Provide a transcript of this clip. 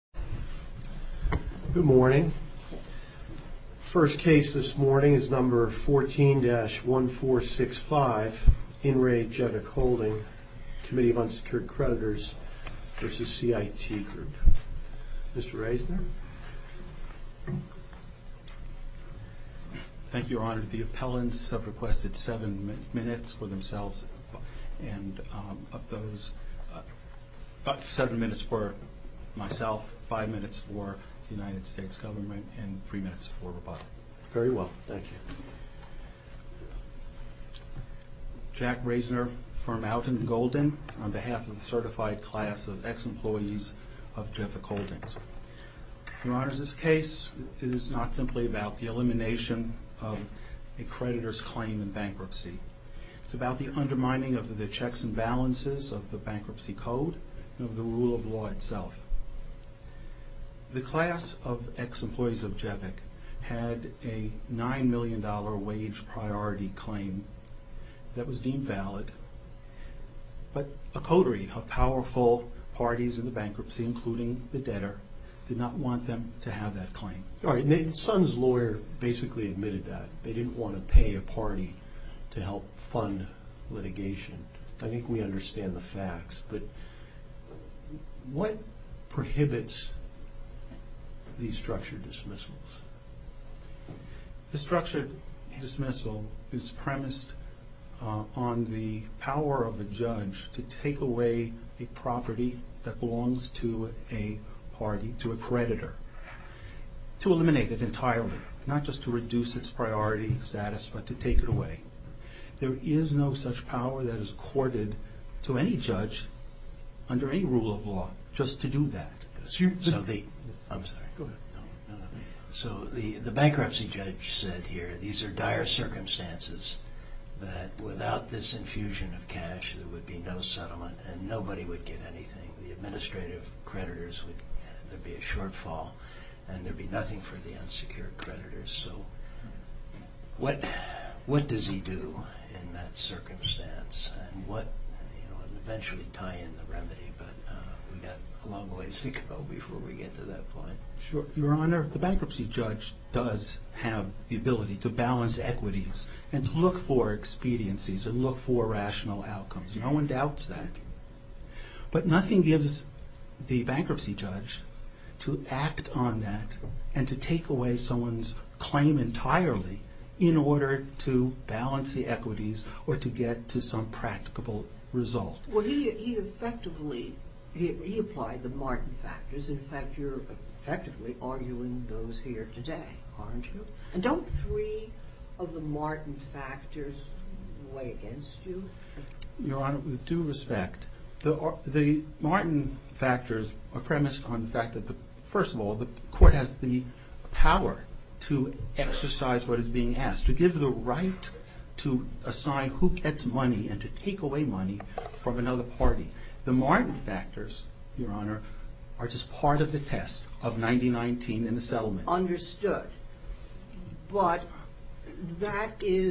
Good morning. First case this morning is number 14-1465 InRe JevicHolding Committee of Unsecured Creditors versus CIT Group. Mr. Reisner. Thank you, Your Honor. The appellants have requested seven minutes for themselves and of course five minutes for the United States government and three minutes for Roboto. Very well, thank you. Jack Reisner for Mountain Golden on behalf of the certified class of ex-employees of Jevic Holdings. Your Honor, this case is not simply about the elimination of a creditor's claim in bankruptcy. It's about the undermining of the checks and balances of the bankruptcy code and of the rule of law itself. The class of ex-employees of Jevic had a $9 million wage priority claim that was deemed valid, but a coterie of powerful parties in the bankruptcy, including the debtor, did not want them to have that claim. Your Honor, the son's lawyer basically admitted that. They didn't want to pay a litigation. I think we understand the facts, but what prohibits these structured dismissals? The structured dismissal is premised on the power of the judge to take away a property that belongs to a party, to a creditor. To eliminate it entirely, not just to reduce its priority status, but to take it away. There is no such power that is accorded to any judge under any rule of law just to do that. So the bankruptcy judge said here, these are dire circumstances, that without this infusion of cash there would be no settlement and nobody would get anything. The administrative creditors would be a shortfall and there'd be nothing for the unsecured creditors. So what does he do in that circumstance? And what, you know, eventually tie in the remedy, but we've got a long ways to go before we get to that point. Sure. Your Honor, the bankruptcy judge does have the ability to balance equities and look for expediencies and look for rational outcomes. No one doubts that, but nothing gives the bankruptcy judge to act on that and to take away someone's property entirely in order to balance the equities or to get to some practicable result. Well, he effectively, he applied the Martin factors. In fact, you're effectively arguing those here today, aren't you? And don't three of the Martin factors weigh against you? Your Honor, with due respect, the Martin factors are premised on the fact that, first of all, the court has the power to exercise what is being asked, to give the right to assign who gets money and to take away money from another party. The Martin factors, Your Honor, are just part of the test of 1919 and the settlement. Understood. But that is...